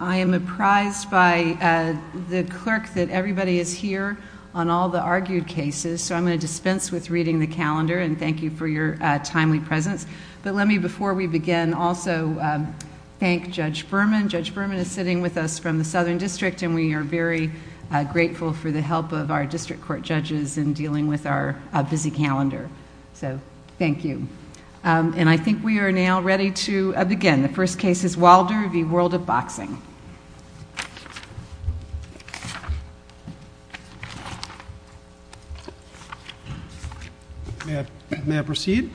I am apprised by the clerk that everybody is here on all the argued cases, so I'm going to dispense with reading the calendar and thank you for your timely presence. But let me before we begin also thank Judge Berman. Judge Berman is sitting with us from the Southern District and we are very grateful for the help of our district court judges in dealing with our busy calendar. So I'm going to turn it over to Judge Berman for World of Boxing. May I proceed?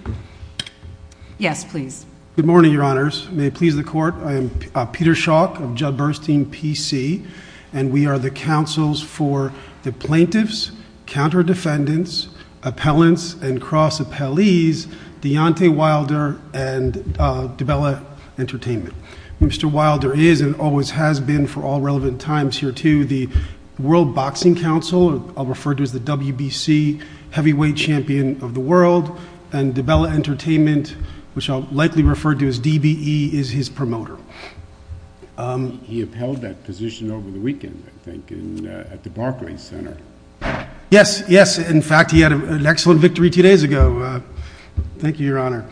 Yes, please. Good morning, Your Honors. May it please the court, I am Peter Shawk of Judd Bernstein PC and we are the counsels for the Plaintiffs, Counter Defendants, Appellants, and Cross Appellees Deontay Wilder and DiBella Entertainment. Mr. Wilder is and always has been for all relevant times here to the World Boxing Council, I'll refer to as the WBC heavyweight champion of the world and DiBella Entertainment, which I'll likely refer to as DBE, is his promoter. He upheld that position over the weekend, I think, at the Barclays Center. Yes, yes, in fact he had an excellent victory two days ago, thank you, Your Honor,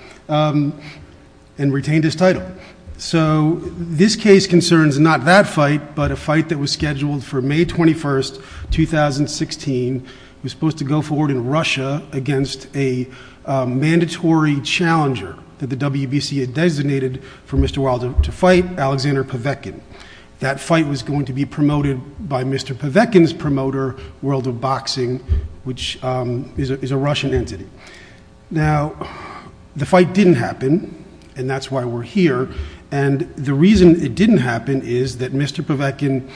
and retained his title. So this case concerns not that fight but a fight that was scheduled for May 21, 2016. It was supposed to go forward in Russia against a mandatory challenger that the WBC had designated for Mr. Wilder to fight, Alexander Pavekin. That fight was going to be promoted by Mr. Pavekin's World of Boxing, which is a Russian entity. Now the fight didn't happen and that's why we're here and the reason it didn't happen is that Mr. Pavekin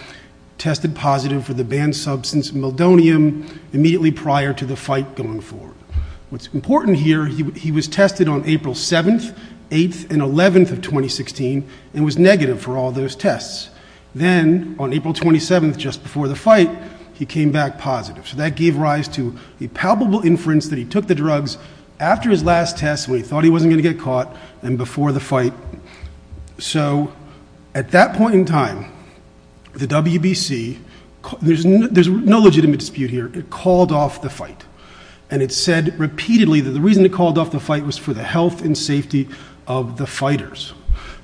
tested positive for the banned substance meldonium immediately prior to the fight going forward. What's important here, he was tested on April 7th, 8th, and 11th of 2016 and was negative for all those tests. Then on April 27th, just positive. So that gave rise to the palpable inference that he took the drugs after his last test when he thought he wasn't going to get caught and before the fight. So at that point in time, the WBC, there's no legitimate dispute here, it called off the fight and it said repeatedly that the reason it called off the fight was for the health and safety of the fighters.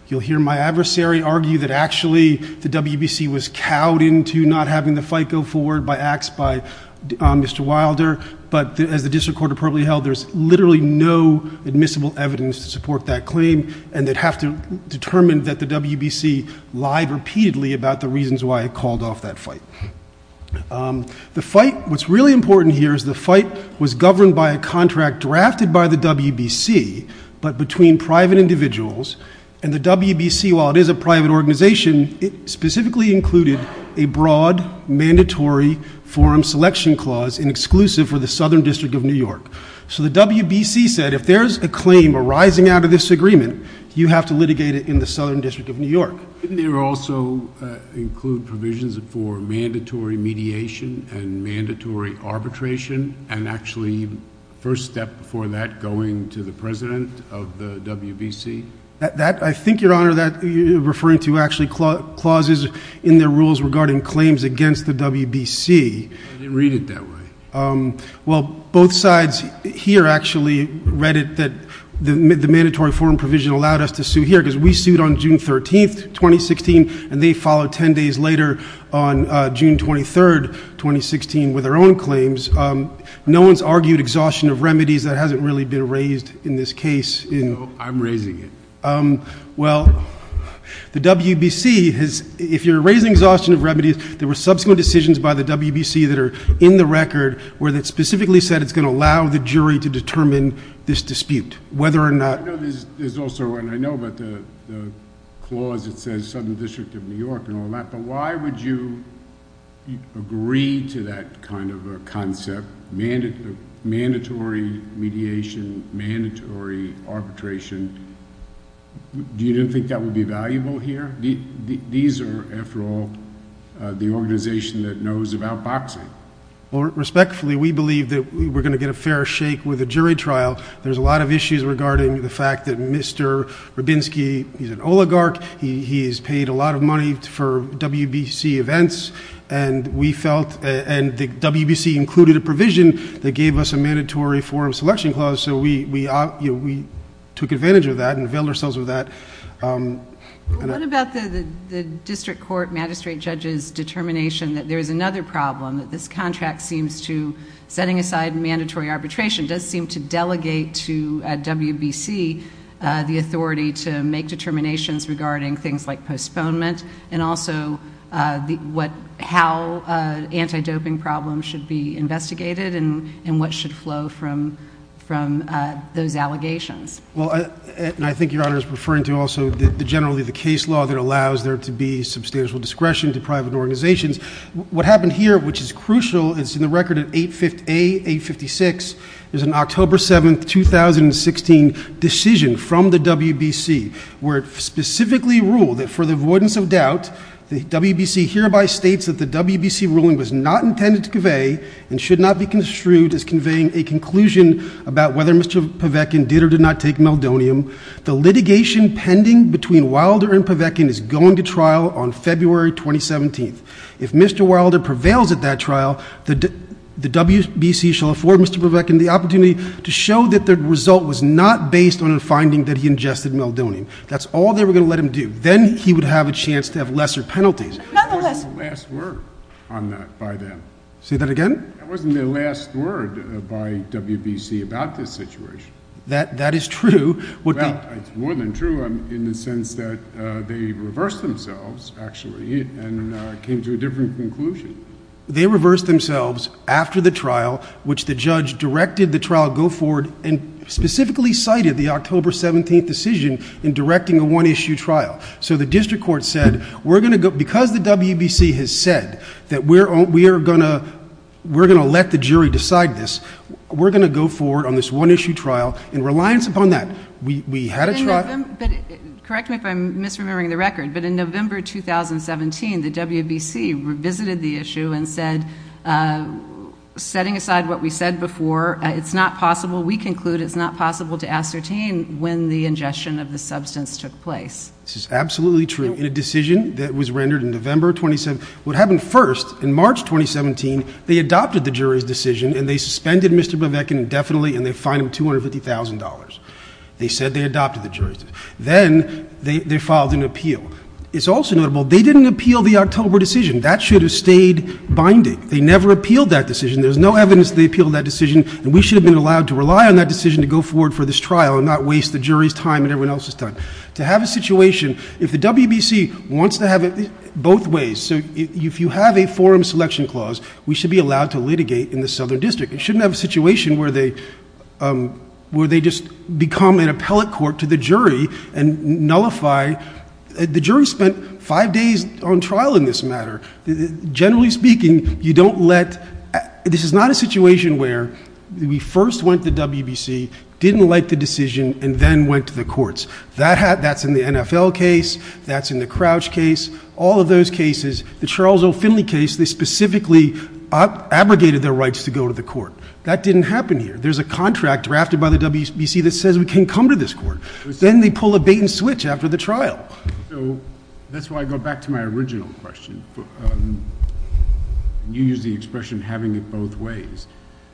You'll hear my adversary argue that actually the WBC was cowed into not having the fight go forward by acts by Mr. Wilder, but as the district court appropriately held, there's literally no admissible evidence to support that claim and they'd have to determine that the WBC lied repeatedly about the reasons why it called off that fight. The fight, what's really important here, is the fight was private organization, it specifically included a broad mandatory forum selection clause in exclusive for the Southern District of New York. So the WBC said if there's a claim arising out of this agreement, you have to litigate it in the Southern District of New York. Didn't there also include provisions for mandatory mediation and mandatory arbitration and actually first step before that referring to actually clauses in their rules regarding claims against the WBC? I didn't read it that way. Well, both sides here actually read it that the mandatory forum provision allowed us to sue here because we sued on June 13th, 2016 and they followed 10 days later on June 23rd, 2016 with their own claims. No one's argued exhaustion of remedies that hasn't really been raised in this case. I'm raising it. Well, the WBC has, if you're raising exhaustion of remedies, there were subsequent decisions by the WBC that are in the record where they specifically said it's going to allow the jury to determine this dispute, whether or not- I know there's also, and I know about the clause that says Southern District of New York and all that, but why would you agree to that kind of a concept, mandatory mediation, mandatory arbitration you didn't think that would be valuable here? These are, after all, the organization that knows about boxing. Respectfully, we believe that we're going to get a fair shake with a jury trial. There's a lot of issues regarding the fact that Mr. Rabinsky, he's an oligarch. He's paid a lot of money for WBC events and the WBC included a provision that gave us a mandatory forum selection clause, so we took advantage of that and veiled ourselves with that. What about the district court magistrate judge's determination that there is another problem, that this contract seems to, setting aside mandatory arbitration, does seem to delegate to WBC the authority to make determinations regarding things like postponement and also what, how anti-doping problems should be investigated and what should flow from those allegations? Well, and I think Your Honor is referring to also generally the case law that allows there to be substantial discretion to private organizations. What happened here, which is crucial, it's in the record at 8A-856, there's an October 7, 2016 decision from the WBC where it specifically ruled that for the avoidance of doubt, the WBC hereby states that the WBC ruling was not intended to convey and should not be construed as conveying a conclusion about whether Mr. Pavekian did or did not take meldonium. The litigation pending between Wilder and Pavekian is going to trial on February 2017. If Mr. Wilder prevails at that trial, the WBC shall afford Mr. Pavekian the opportunity to show that the result was not based on a finding that he ingested meldonium. That's all they were going to let him do. Then he would have a chance to have lesser penalties. Another lesson. There wasn't a last word on that by them. Say that again? There wasn't a last word by WBC about this situation. That, that is true. Well, it's more than true in the sense that they reversed themselves, actually, and came to a different conclusion. They reversed themselves after the trial, which the judge directed the trial go forward and specifically cited the October 17th decision in directing a one-issue trial. So the district court said, we're going to go, because the WBC has said that we're, we are going to, we're going to let the jury decide this. We're going to go forward on this one-issue trial in reliance upon that. We, we had a trial. But correct me if I'm misremembering the record, but in November 2017, the WBC revisited the issue and said, uh, setting aside what we said before, it's not possible. We conclude it's not possible to ascertain when the ingestion of the substance took place. This is absolutely true. In a decision that was rendered in November 2017, what happened first in March 2017, they adopted the jury's decision and they suspended Mr. Bevecchian indefinitely and they fined him $250,000. They said they adopted the jury's decision. Then they, they filed an appeal. It's also notable, they didn't appeal the October decision. That should have stayed binding. They never appealed that decision. There's no evidence they appealed that decision and we should have been allowed to rely on that decision to go forward for this trial and not waste the jury's time and everyone else's time. To have a situation, if the WBC wants to have it both ways, so if you have a forum selection clause, we should be allowed to litigate in the Southern District. It shouldn't have a situation where they, um, where they just become an appellate court to the jury and nullify, the jury spent five days on trial in this matter. Generally speaking, you don't let, this is not a situation where we first went to WBC, didn't like the decision, and then went to the courts. That had, that's in the NFL case, that's in the Crouch case, all of those cases, the Charles O. Finley case, they specifically abrogated their rights to go to the court. That didn't happen here. There's a contract drafted by the WBC that says we can come to this court. Then they pull a bait and switch after the trial. So, that's why I go back to my original question. You used the expression, having it both ways.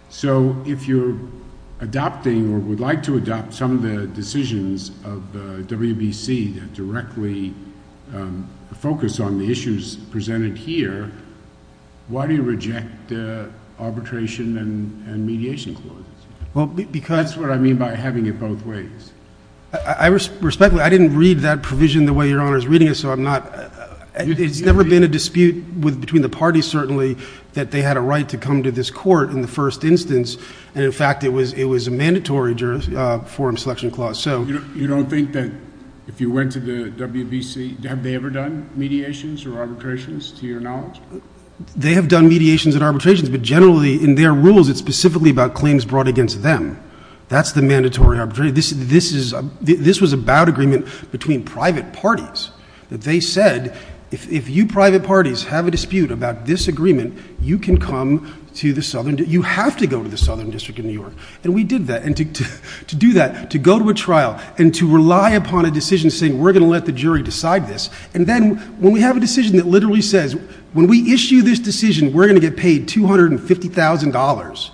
So, if you're adopting or would like to adopt some of the decisions of the WBC that directly focus on the issues presented here, why do you reject arbitration and mediation clauses? Well, because. That's what I mean by having it both ways. I respect that. I didn't read that provision the way Your Honor is reading it, so I'm not. It's never been a dispute between the parties, certainly, that they had a right to come to this court in the first instance. And in fact, it was a mandatory forum selection clause. You don't think that if you went to the WBC, have they ever done mediations or arbitrations, to your knowledge? They have done mediations and arbitrations, but generally, in their rules, it's specifically about claims brought against them. That's the mandatory arbitration. This was about agreement between private parties. That they said, if you private parties have a dispute about this agreement, you can come to the Southern, you have to go to the Southern District of New York. And we did that. And to do that, to go to a trial and to rely upon a decision saying, we're going to let the jury decide this. And then, when we have a decision that literally says, when we issue this decision, we're going to get paid $250,000.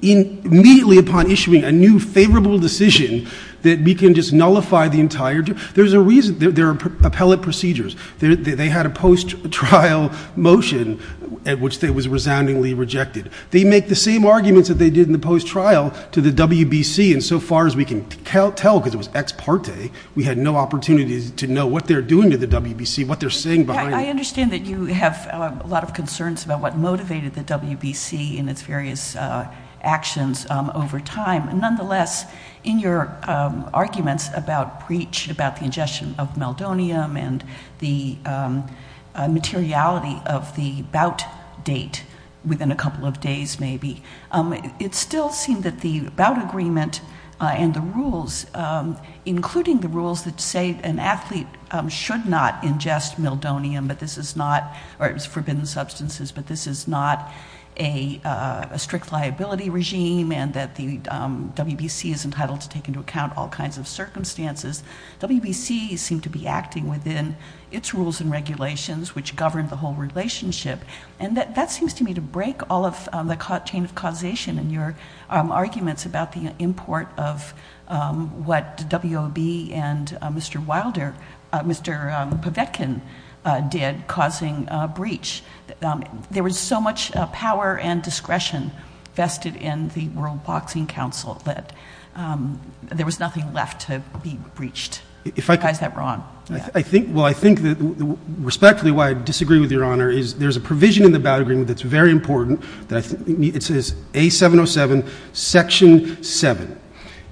Immediately upon issuing a new favorable decision, that we can just nullify the entire. There's a reason. There are appellate procedures. They had a post-trial motion at which they was resoundingly rejected. They make the same arguments that they did in the post-trial to the WBC. And so far as we can tell, because it was ex parte, we had no opportunity to know what they're doing to the WBC, what they're saying behind it. I understand that you have a lot of concerns about what motivated the WBC in its various actions over time. Nonetheless, in your arguments about breach, about the ingestion of meldonium, and the materiality of the bout date within a couple of days, maybe. It still seemed that the bout agreement and the rules, including the rules that say an athlete should not ingest meldonium, but this is not, or it was forbidden substances, but this is not a strict liability regime, and that the WBC is entitled to take into account all kinds of circumstances. WBC seemed to be acting within its rules and regulations, which governed the whole relationship. And that seems to me to break all of the chain of causation in your arguments about the import of what W.O.B. and Mr. Wilder, Mr. Pavetkin did, causing breach. There was so much power and discretion vested in the World Boxing Council that there was nothing left to be breached. You guys got it wrong. Well, I think that, respectfully, why I disagree with your honor is there's a provision in the bout agreement that's very important. It says A707, section 7.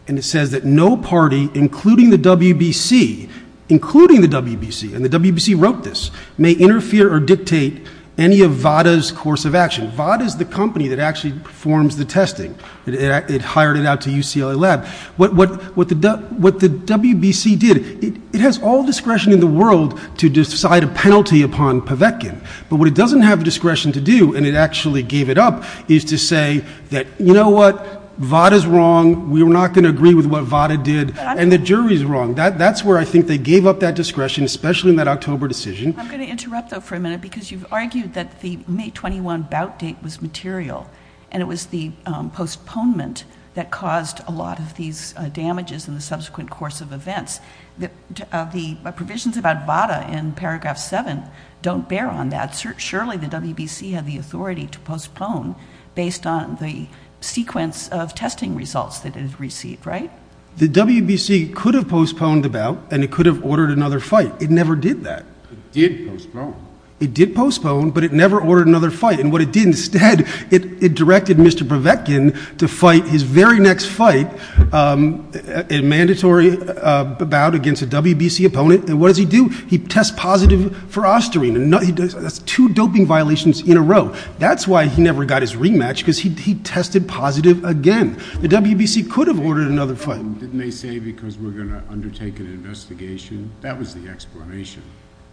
And it says that no party, including the WBC, including the WBC, and the WBC wrote this, may interfere or dictate any of VADA's course of action. VADA is the company that actually performs the testing. It hired it out to UCLA Lab. What the WBC did, it has all discretion in the world to decide a penalty upon Pavetkin. But what it doesn't have discretion to do, and it actually gave it up, is to say that, you know what, VADA's wrong, we're not going to agree with what VADA did, and the jury's wrong. That's where I think they gave up that discretion, especially in that October decision. I'm going to interrupt, though, for a minute, because you've argued that the May 21 bout date was material, and it was the postponement that caused a lot of these damages in the subsequent course of events. The provisions about VADA in paragraph 7 don't bear on that. Surely the WBC had the authority to postpone based on the sequence of testing results that it had received, right? The WBC could have postponed the bout, and it could have ordered another fight. It never did that. It did postpone. It did postpone, but it never ordered another fight. And what it did instead, it directed Mr. Pavetkin to fight his very next fight, a mandatory bout against a WBC opponent. And what does he do? He tests positive for osterene, and that's two doping violations in a row. That's why he never got his rematch, because he tested positive again. The WBC could have ordered another fight. Didn't they say, because we're going to undertake an investigation? That was the explanation.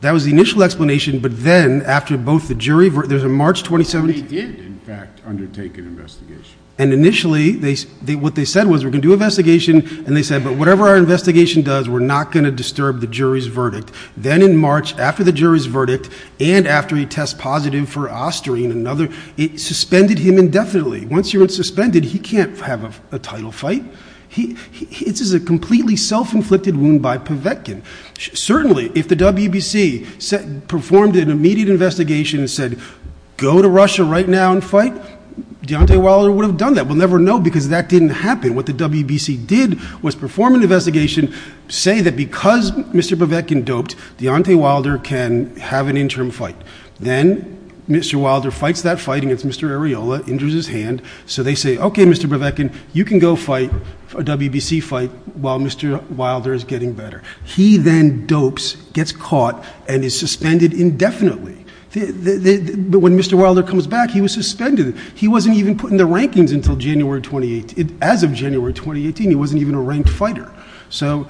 That was the initial explanation. But then, after both the jury... There's a March 2017... They did, in fact, undertake an investigation. And initially, what they said was, we're going to do an investigation. And they said, but whatever our investigation does, we're not going to disturb the jury's verdict. Then in March, after the jury's verdict, and after he tests positive for osterene, it suspended him indefinitely. Once you're suspended, he can't have a title fight. It's a completely self-inflicted wound by Povetkin. Certainly, if the WBC performed an immediate investigation and said, go to Russia right now and fight, Deontay Wilder would have done that. We'll never know, because that didn't happen. What the WBC did was perform an investigation, say that because Mr. Povetkin doped, Deontay Wilder can have an interim fight. Then Mr. Wilder fights that fight against Mr. Areola, injures his hand. So they say, okay, Mr. Povetkin, you can go fight a WBC fight while Mr. Wilder is getting better. He then dopes, gets caught, and is suspended indefinitely. But when Mr. Wilder comes back, he was suspended. He wasn't even put in the rankings until January 2018. As of January 2018, he wasn't even a ranked fighter. So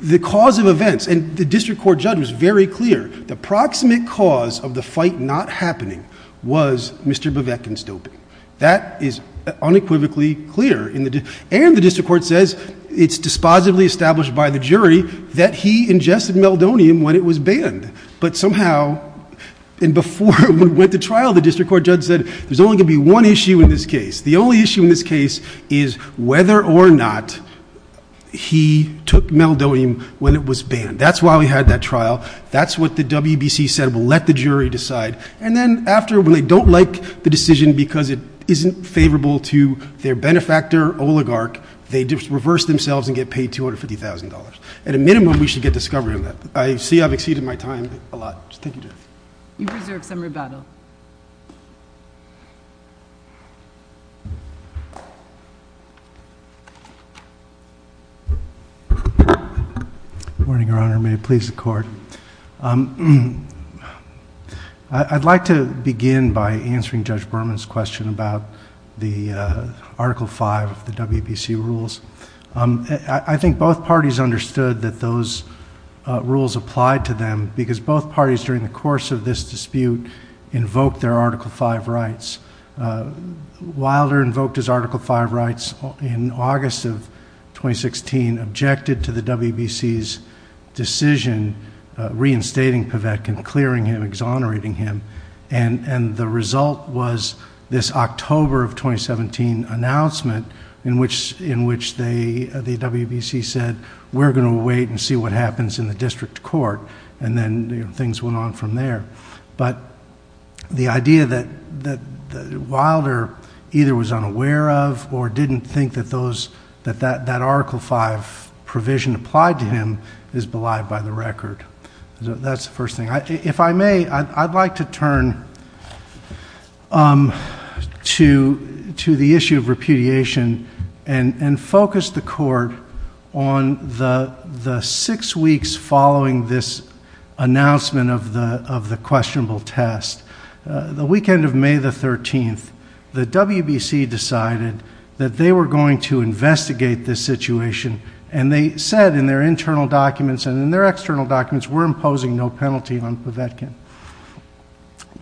the cause of events, and the district court judge was very clear, the proximate cause of the fight not happening was Mr. Povetkin's doping. That is unequivocally clear. And the district court says, it's dispositively established by the jury that he ingested meldonium when it was banned. But somehow, and before we went to trial, the district court judge said, there's only going to be one issue in this case. The only issue in this case is whether or not he took meldonium when it was banned. That's why we had that trial. That's what the WBC said, we'll let the jury decide. And then after, when they don't like the decision because it isn't favorable to their benefactor, oligarch, they just reverse themselves and get paid $250,000. At a minimum, we should get discovered on that. I see I've exceeded my time a lot. Thank you, Judge. You've reserved some rebuttal. Good morning, Your Honor. May it please the court. I'd like to begin by answering Judge Berman's question about the Article V of the WBC rules. I think both parties understood that those rules applied to them because both parties, during the course of this dispute, invoked their Article V rights. Wilder invoked his Article V rights in August of 2016, objected to the WBC's decision reinstating Pevec and clearing him, exonerating him. The result was this October of 2017 announcement in which the WBC said, we're going to wait and see what happens in the district court. Things went on from there. The idea that Wilder either was unaware of or didn't think that that Article V provision applied to him is belied by the record. That's the first thing. If I may, I'd like to turn to the issue of repudiation and focus the court on the six weeks following this announcement of the questionable test. The weekend of May the 13th, the WBC decided that they were going to investigate this situation, and they said in their internal documents and in their external documents, we're imposing no penalty on Pevec.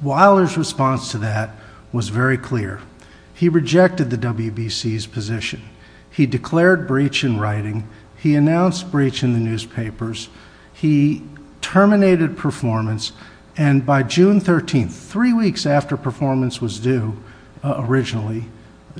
Wilder's response to that was very clear. He rejected the WBC's position. He declared breach in writing. He announced breach in the newspapers. He terminated performance, and by June 13th, three weeks after performance was due originally,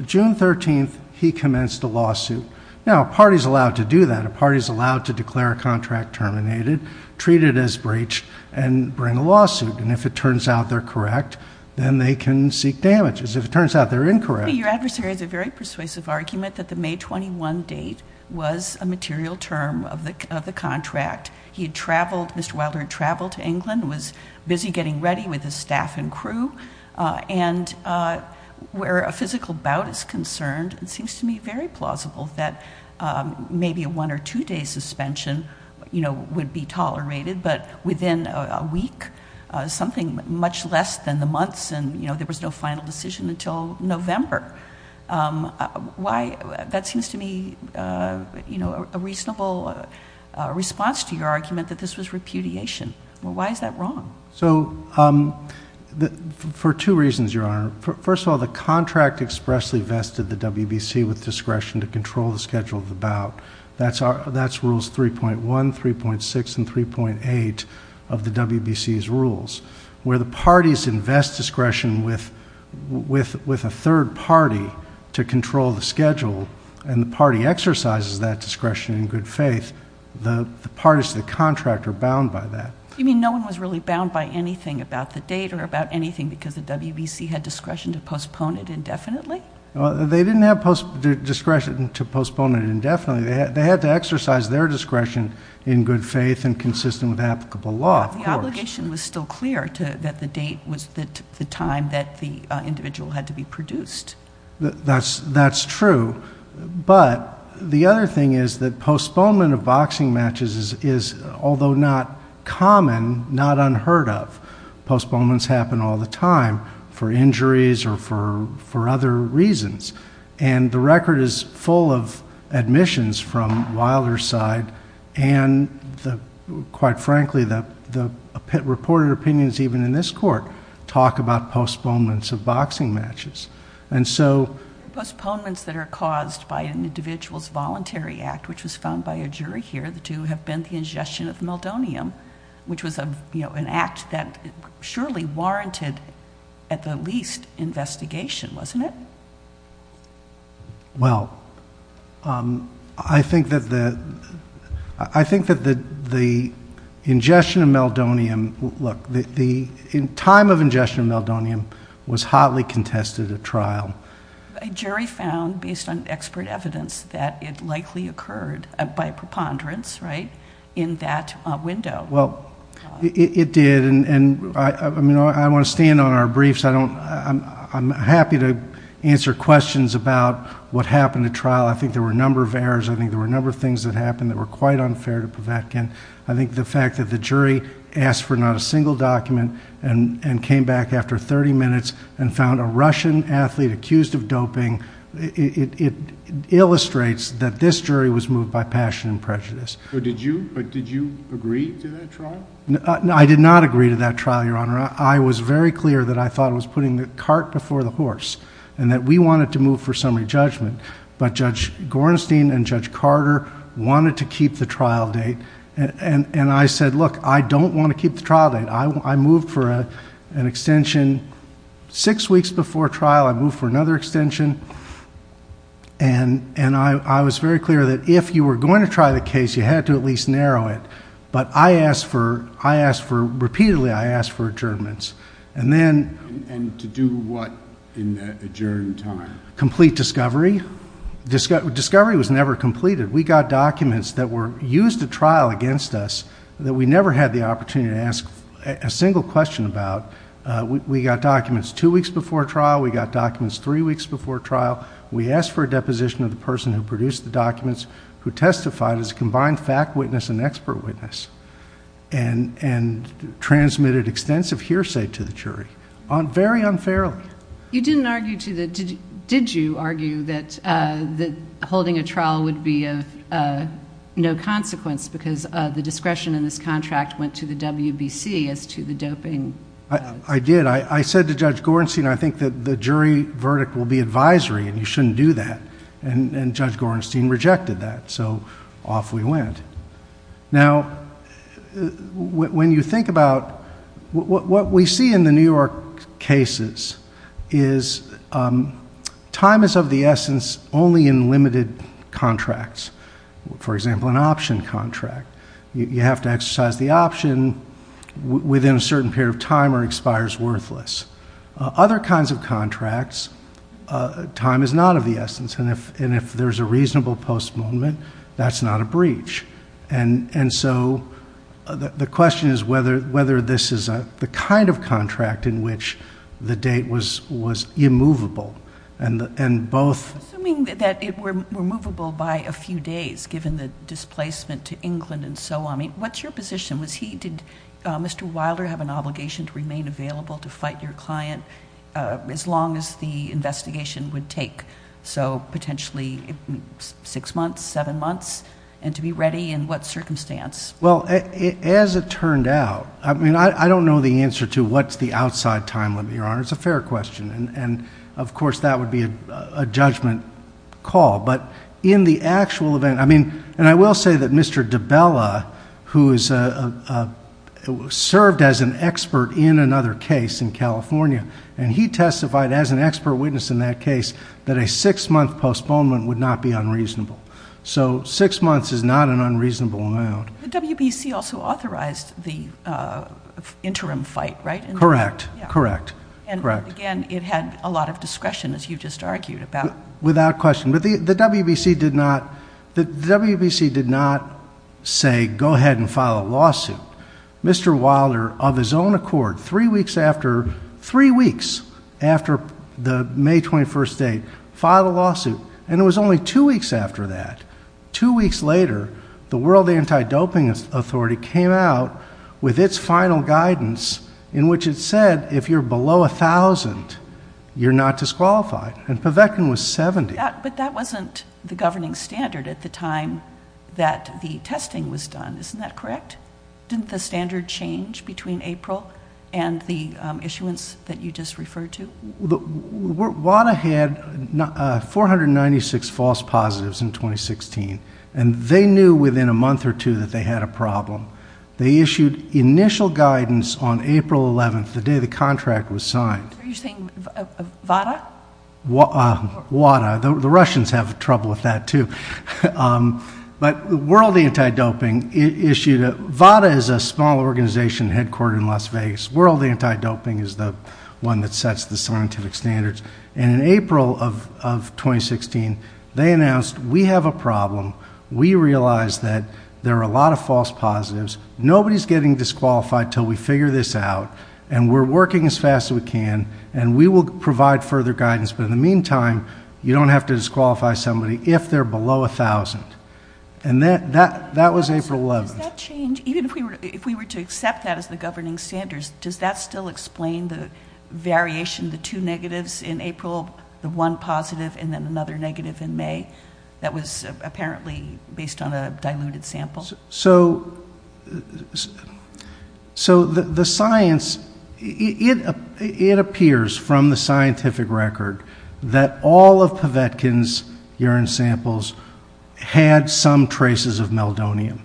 June 13th, he commenced a lawsuit. Now, a party's allowed to do that. A party's allowed to declare a contract terminated, treat it as breach, and bring a lawsuit. If it turns out they're correct, then they can seek damages. If it turns out they're incorrect. Your adversary has a very persuasive argument that the May 21 date was a material term of the contract. He had traveled, Mr. Wilder had traveled to England, was busy getting ready with his staff and crew, and where a physical bout is concerned, it seems to me very plausible that maybe a one or two day suspension would be tolerated, but within a week, something much less than the months, and there was no final decision until November. That seems to me a reasonable response to your argument that this was repudiation. Why is that wrong? So, for two reasons, Your Honor. First of all, the contract expressly vested the WBC with discretion to control the schedule of the bout. That's rules 3.1, 3.6, and 3.8 of the WBC's rules. Where the parties invest discretion with a third party to control the schedule, and the party exercises that discretion in good faith, the parties to the contract are bound by that. You mean no one was really bound by anything about the date or about anything because the WBC had discretion to postpone it indefinitely? They didn't have discretion to postpone it indefinitely. They had to exercise their discretion in good faith and consistent with applicable law, of course. But the obligation was still clear, that the date was the time that the individual had to be produced. That's true, but the other thing is that postponement of boxing matches is, although not common, not unheard of. Postponements happen all the time for injuries or for other reasons. The record is full of admissions from Wilder's side, and quite frankly, the reported opinions even in this court talk about postponements of boxing matches. Postponements that are caused by an individual's voluntary act, which was found by a jury here, the two have been the ingestion of meldonium, which was an act that surely warranted at the least investigation, wasn't it? Well, I think that the ingestion of meldonium, look, the time of ingestion of meldonium was hotly contested at trial. A jury found, based on expert evidence, that it likely occurred by preponderance in that window. Well, it did, and I want to stand on our briefs. I'm happy to answer questions about what happened at trial. I think there were a number of errors. I think there were a number of things that happened that were quite unfair to Povetkin. I think the fact that the jury asked for not a single document and came back after 30 minutes and found a Russian athlete accused of doping, it illustrates that this jury was moved by passion and prejudice. But did you agree to that trial? I did not agree to that trial, Your Honor. I was very clear that I thought it was putting the cart before the horse and that we wanted to move for summary judgment, but Judge Gornstein and Judge Carter wanted to keep the trial date. And I said, look, I don't want to keep the trial date. I moved for an extension six weeks before trial. I moved for another extension, and I was very clear that if you were going to try the case, you had to at least narrow it. But repeatedly, I asked for adjournments. And to do what in that adjourned time? Complete discovery. Discovery was never completed. We got documents that were used at trial against us that we never had the opportunity to ask a single question about. We got documents two weeks before trial. We got documents three weeks before trial. We asked for a deposition of the person who produced the documents, who testified as a combined fact witness and expert witness, and transmitted extensive hearsay to the jury, very unfairly. You didn't argue to the... Did you argue that holding a trial would be of no consequence because the discretion in this contract went to the WBC as to the doping... I did. I said to Judge Gorenstein, I think that the jury verdict will be advisory, and you shouldn't do that. And Judge Gorenstein rejected that. So off we went. Now, when you think about... what we see in the New York cases is time is of the You have to exercise the option within a certain period of time or it expires worthless. Other kinds of contracts, time is not of the essence, and if there's a reasonable postponement, that's not a breach. And so the question is whether this is the kind of contract in which the date was immovable. And both... It were immovable by a few days, given the displacement to England and so on. What's your position? Was he... Did Mr. Wilder have an obligation to remain available to fight your client as long as the investigation would take? So potentially six months, seven months, and to be ready in what circumstance? Well, as it turned out, I don't know the answer to what's the outside time limit, Your Honor. It's a fair question. And of course, that would be a judgment call. But in the actual event... I mean, and I will say that Mr. DiBella, who served as an expert in another case in California, and he testified as an expert witness in that case that a six-month postponement would not be unreasonable. So six months is not an unreasonable amount. WBC also authorized the interim fight, right? Correct. Correct. Correct. Again, it had a lot of discretion, as you just argued about. Without question. But the WBC did not say, go ahead and file a lawsuit. Mr. Wilder, of his own accord, three weeks after the May 21st date, filed a lawsuit. And it was only two weeks after that. Two weeks later, the World Anti-Doping Authority came out with its final guidance, in which it said, if you're below 1,000, you're not disqualified. And Pavekan was 70. But that wasn't the governing standard at the time that the testing was done. Isn't that correct? Didn't the standard change between April and the issuance that you just referred to? WADA had 496 false positives in 2016. And they knew within a month or two that they had a problem. They issued initial guidance on April 11th, the day the contract was signed. Are you saying WADA? WADA. The Russians have trouble with that, too. But World Anti-Doping issued a... WADA is a small organization headquartered in Las Vegas. World Anti-Doping is the one that sets the scientific standards. And in April of 2016, they announced, we have a problem. We realize that there are a lot of false positives. Nobody's getting disqualified until we figure this out. And we're working as fast as we can. And we will provide further guidance. But in the meantime, you don't have to disqualify somebody if they're below 1,000. And that was April 11th. Does that change? Even if we were to accept that as the governing standards, does that still explain the variation, the two negatives in April, the one positive, and then another negative in May? That was apparently based on a diluted sample. So the science... It appears from the scientific record that all of Pavetkin's urine samples had some traces of meldonium.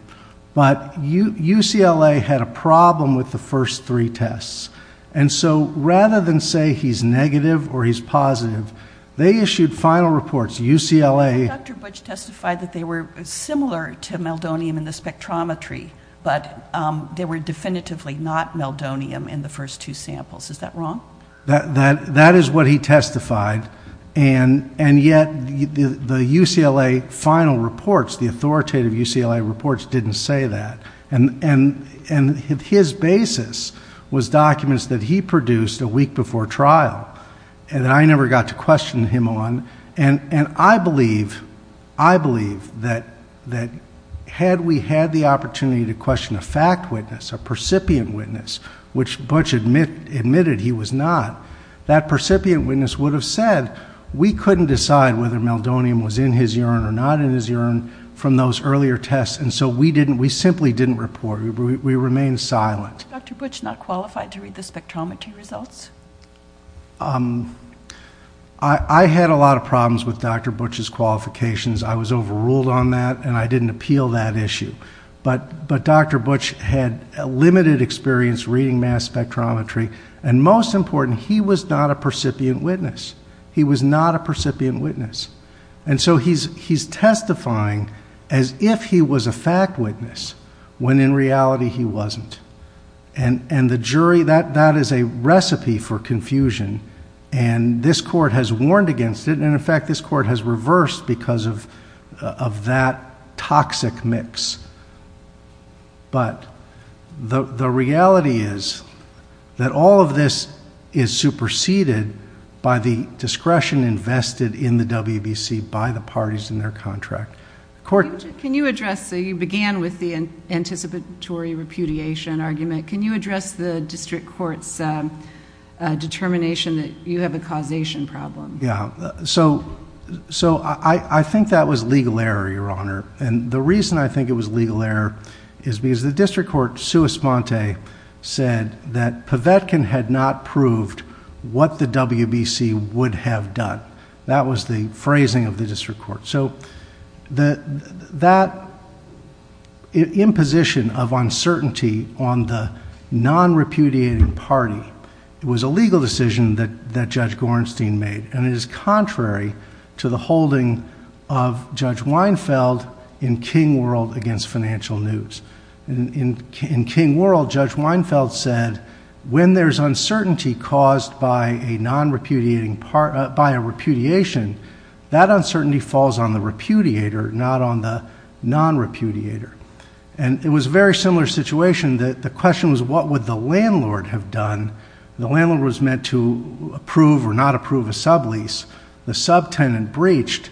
But UCLA had a problem with the first three tests. And so rather than say he's negative or he's positive, they issued final reports. Dr. Butch testified that they were similar to meldonium in the spectrometry, but they were definitively not meldonium in the first two samples. Is that wrong? That is what he testified. And yet the UCLA final reports, the authoritative UCLA reports, didn't say that. And his basis was documents that he produced a week before trial and I never got to question him on. And I believe that had we had the opportunity to question a fact witness, a percipient witness, which Butch admitted he was not, that percipient witness would have said, we couldn't decide whether meldonium was in his urine or not in his urine from those earlier tests. And so we simply didn't report. We remained silent. Dr. Butch not qualified to read the spectrometry results? Um, I had a lot of problems with Dr. Butch's qualifications. I was overruled on that and I didn't appeal that issue. But, but Dr. Butch had a limited experience reading mass spectrometry. And most important, he was not a percipient witness. He was not a percipient witness. And so he's, he's testifying as if he was a fact witness when in reality he wasn't. And, and the jury, that, that is a recipe for confusion. And this court has warned against it. And in fact, this court has reversed because of, of that toxic mix. But the, the reality is that all of this is superseded by the discretion invested in the WBC by the parties in their contract. Court. Can you address, so you began with the anticipatory repudiation argument. Can you address the district court's, uh, determination that you have a causation problem? Yeah. So, so I, I think that was legal error, Your Honor. And the reason I think it was legal error is because the district court, sua sponte, said that Pavetkin had not proved what the WBC would have done. That was the phrasing of the district court. So the, that imposition of uncertainty on the non-repudiating party, it was a legal decision that, that Judge Gorenstein made. And it is contrary to the holding of Judge Weinfeld in King World against Financial News. And in King World, Judge Weinfeld said, when there's uncertainty caused by a non-repudiating by a repudiation, that uncertainty falls on the repudiator, not on the non-repudiator. And it was a very similar situation that the question was, what would the landlord have done? The landlord was meant to approve or not approve a sublease. The subtenant breached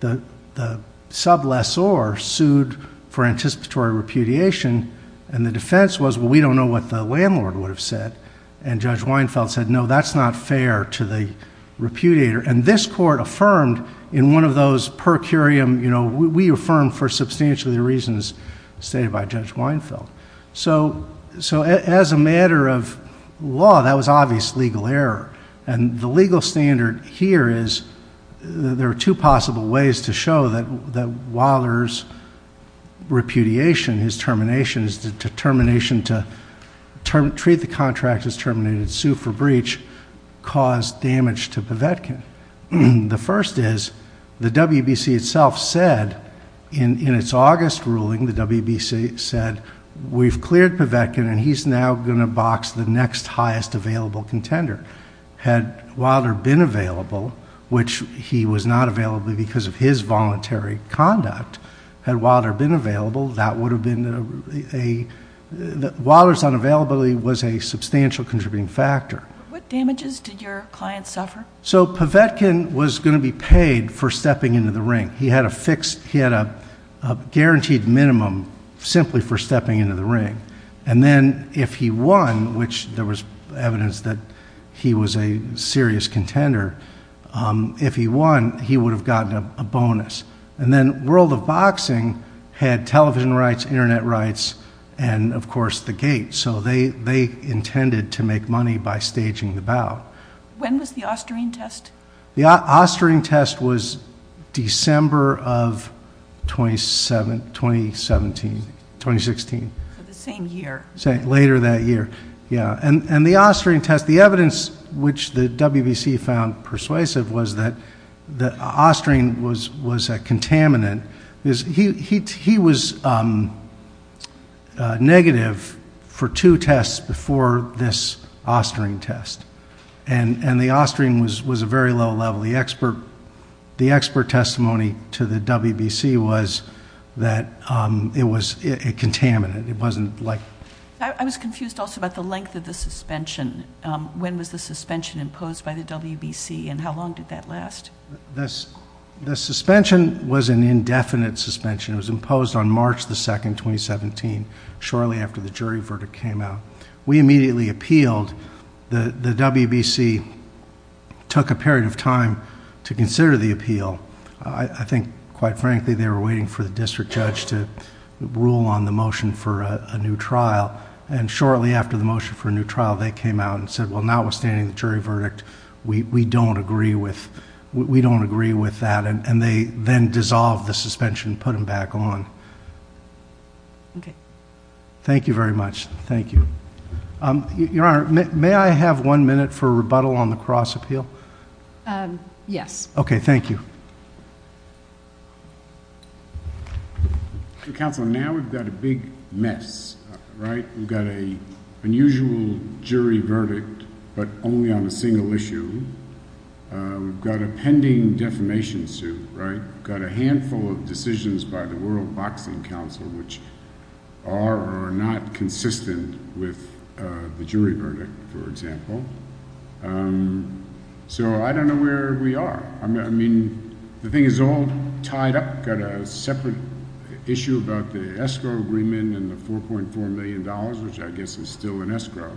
the, the sub lessor sued for anticipatory repudiation. And the defense was, well, we don't know what the landlord would have said. And Judge Weinfeld said, no, that's not fair to the repudiator. And this court affirmed in one of those per curiam, you know, we affirm for substantially the reasons stated by Judge Weinfeld. So, so as a matter of law, that was obvious legal error. And the legal standard here is there are two possible ways to show that, that Wilder's repudiation, his termination, his determination to treat the contract as terminated, sue for breach, caused damage to Povetkin. The first is, the WBC itself said, in its August ruling, the WBC said, we've cleared Povetkin and he's now going to box the next highest available contender. Had Wilder been available, which he was not available because of his voluntary conduct, had Wilder been available, that would have been a, Wilder's unavailability was a substantial contributing factor. What damages did your client suffer? So Povetkin was going to be paid for stepping into the ring. He had a fixed, he had a guaranteed minimum simply for stepping into the ring. And then if he won, which there was evidence that he was a serious contender, if he won, he would have gotten a bonus. And then World of Boxing had television rights, internet rights, and of course the gate. So they, they intended to make money by staging the bout. When was the Austerine test? The Austerine test was December of 2017, 2016. So the same year. Later that year, yeah. And, and the Austerine test, the evidence which the WBC found persuasive was that, that Austerine was, was a contaminant. Because he, he, he was negative for two tests before this Austerine test. And, and the Austerine was, was a very low level. The expert, the expert testimony to the WBC was that it was a contaminant. It wasn't like. I, I was confused also about the length of the suspension. When was the suspension imposed by the WBC and how long did that last? This, the suspension was an indefinite suspension. It was imposed on March the 2nd, 2017, shortly after the jury verdict came out. We immediately appealed. The, the WBC took a period of time to consider the appeal. I think quite frankly, they were waiting for the district judge to rule on the motion for a new trial. And shortly after the motion for a new trial, they came out and said, well, notwithstanding the jury verdict, we, we don't agree with, we don't agree with that. And they then dissolved the suspension, put them back on. Okay. Thank you very much. Thank you. Um, your honor, may I have one minute for rebuttal on the cross appeal? Um, yes. Okay. Thank you. So counsel, now we've got a big mess, right? We've got a unusual jury verdict, but only on a single issue. Uh, we've got a pending defamation suit, right? We've got a handful of decisions by the world boxing council, which are or are not consistent with, uh, the jury verdict, for example. Um, so I don't know where we are. I mean, the thing is all tied up, got a separate issue about the escrow agreement and the $4.4 million, which I guess is still in escrow.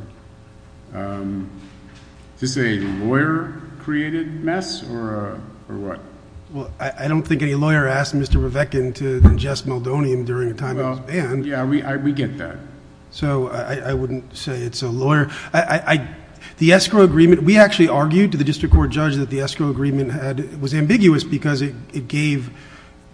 Um, is this a lawyer created mess or, uh, or what? Well, I don't think any lawyer asked Mr. Rebeckin to ingest meldonium during a time of his ban. Yeah, we, I, we get that. So I wouldn't say it's a lawyer. I, I, the escrow agreement, we actually argued to the district court judge that the escrow agreement had was ambiguous because it gave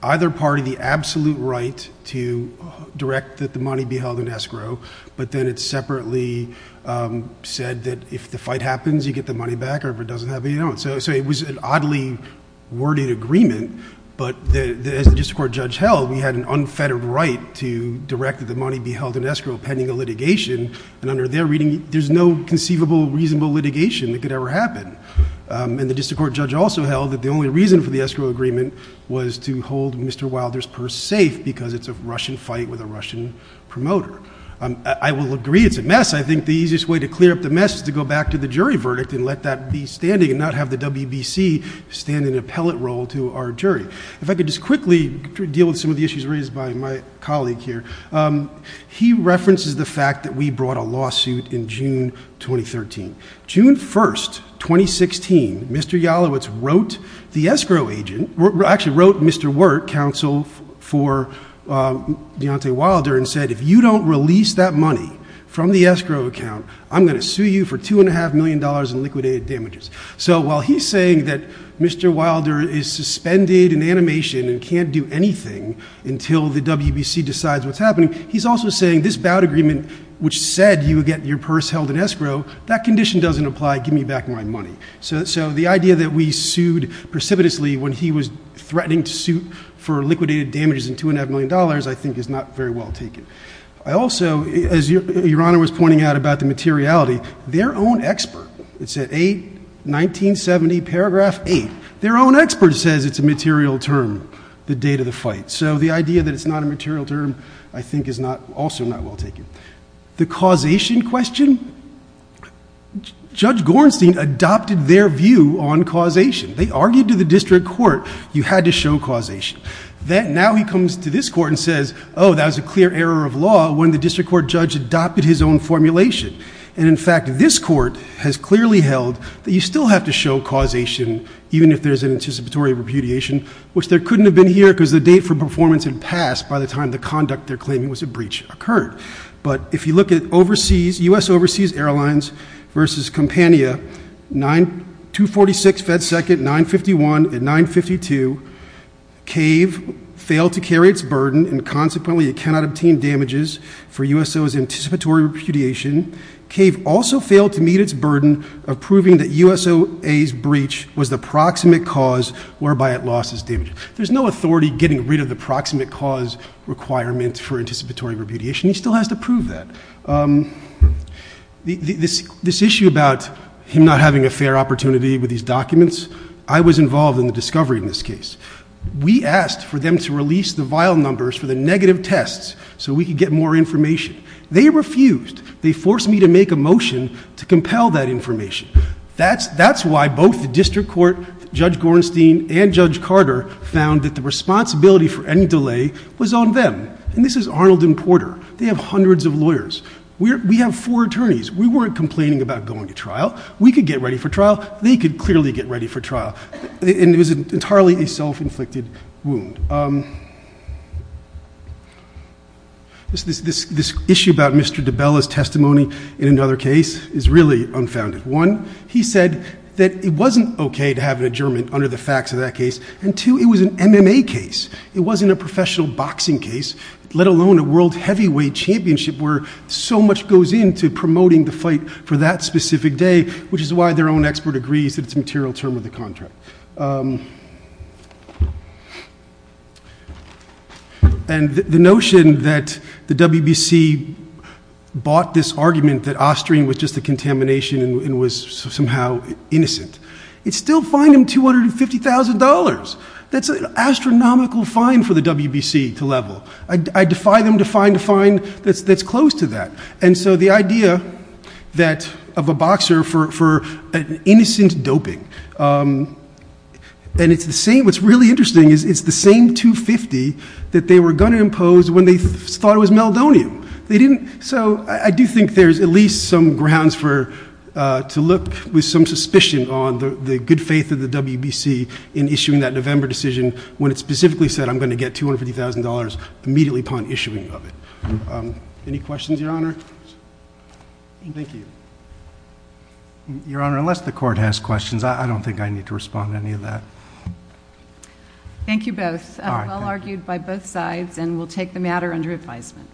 either party the absolute right to direct that the money be held in escrow, but then it's separately, um, said that if the fight happens, you get the money back or if it doesn't happen, you don't. So it was an oddly worded agreement, but the, as the district court judge held, we had an unfettered right to direct that the money be held in escrow pending a litigation. And under their reading, there's no conceivable, reasonable litigation that could ever happen. Um, and the district court judge also held that the only reason for the escrow agreement was to hold Mr. Wilder's purse safe because it's a Russian fight with a Russian promoter. Um, I will agree. It's a mess. I think the easiest way to clear up the mess is to go back to the jury stand in an appellate role to our jury. If I could just quickly deal with some of the issues raised by my colleague here, um, he references the fact that we brought a lawsuit in June, 2013, June 1st, 2016, Mr. Yalowitz wrote the escrow agent, actually wrote Mr. Wert, counsel for, um, Deontay Wilder and said, if you don't release that money from the escrow account, I'm going to sue you for two and a half million dollars in liquidated damages. So while he's saying that Mr. Wilder is suspended in animation and can't do anything until the WBC decides what's happening. He's also saying this bout agreement, which said you would get your purse held in escrow. That condition doesn't apply. Give me back my money. So, so the idea that we sued precipitously when he was threatening to suit for liquidated damages in two and a half million dollars, I think is not very well taken. I also, as your honor was pointing out about the materiality, their own expert, it said eight, 1970 paragraph eight, their own expert says it's a material term, the date of the fight. So the idea that it's not a material term, I think is not also not well taken. The causation question, Judge Gorenstein adopted their view on causation. They argued to the district court, you had to show causation. Then now he comes to this court and says, oh, that was a clear error of law when the district court judge adopted his own formulation. And in fact, this court has clearly held that you still have to show causation, even if there's an anticipatory repudiation, which there couldn't have been here because the date for performance had passed by the time the conduct they're claiming was a breach occurred. But if you look at overseas, U.S. Overseas Airlines versus Compania, 9, 246 FedSecond, 951 and 952, CAVE failed to carry its burden and consequently it cannot obtain damages for USO's anticipatory repudiation. CAVE also failed to meet its burden of proving that USOA's breach was the proximate cause whereby it lost its damages. There's no authority getting rid of the proximate cause requirement for anticipatory repudiation. He still has to prove that. This issue about him not having a fair opportunity with these documents, I was involved in the discovery in this case. We asked for them to release the vial numbers for the negative tests so we could get more information. They refused. They forced me to make a motion to compel that information. That's why both the district court, Judge Gorenstein and Judge Carter found that the responsibility for any delay was on them. And this is Arnold and Porter. They have hundreds of lawyers. We have four attorneys. We weren't complaining about going to trial. We could get ready for trial. They could clearly get ready for trial. And it was entirely a self-inflicted wound. This issue about Mr. DiBella's testimony in another case is really unfounded. One, he said that it wasn't okay to have an adjournment under the facts of that case. And two, it was an MMA case. It wasn't a professional boxing case, let alone a world heavyweight championship where so much goes into promoting the fight for that specific day, which is why their own expert agrees that it's a material term of the contract. And the notion that the WBC bought this argument that Ostring was just a contamination and was somehow innocent. It's still fined him $250,000. That's an astronomical fine for the WBC to level. I defy them to find a fine that's close to that. And so the idea of a boxer for an innocent doping, and what's really interesting is it's the same $250,000 that they were going to impose when they thought it was meldonium. So I do think there's at least some grounds to look with some suspicion on the good faith of the WBC in issuing that November decision when it specifically said, I'm going to get $250,000 immediately upon issuing of it. Any questions, Your Honor? Thank you. Your Honor, unless the court has questions, I don't think I need to respond to any of that. Thank you both. Well argued by both sides, and we'll take the matter under advisement.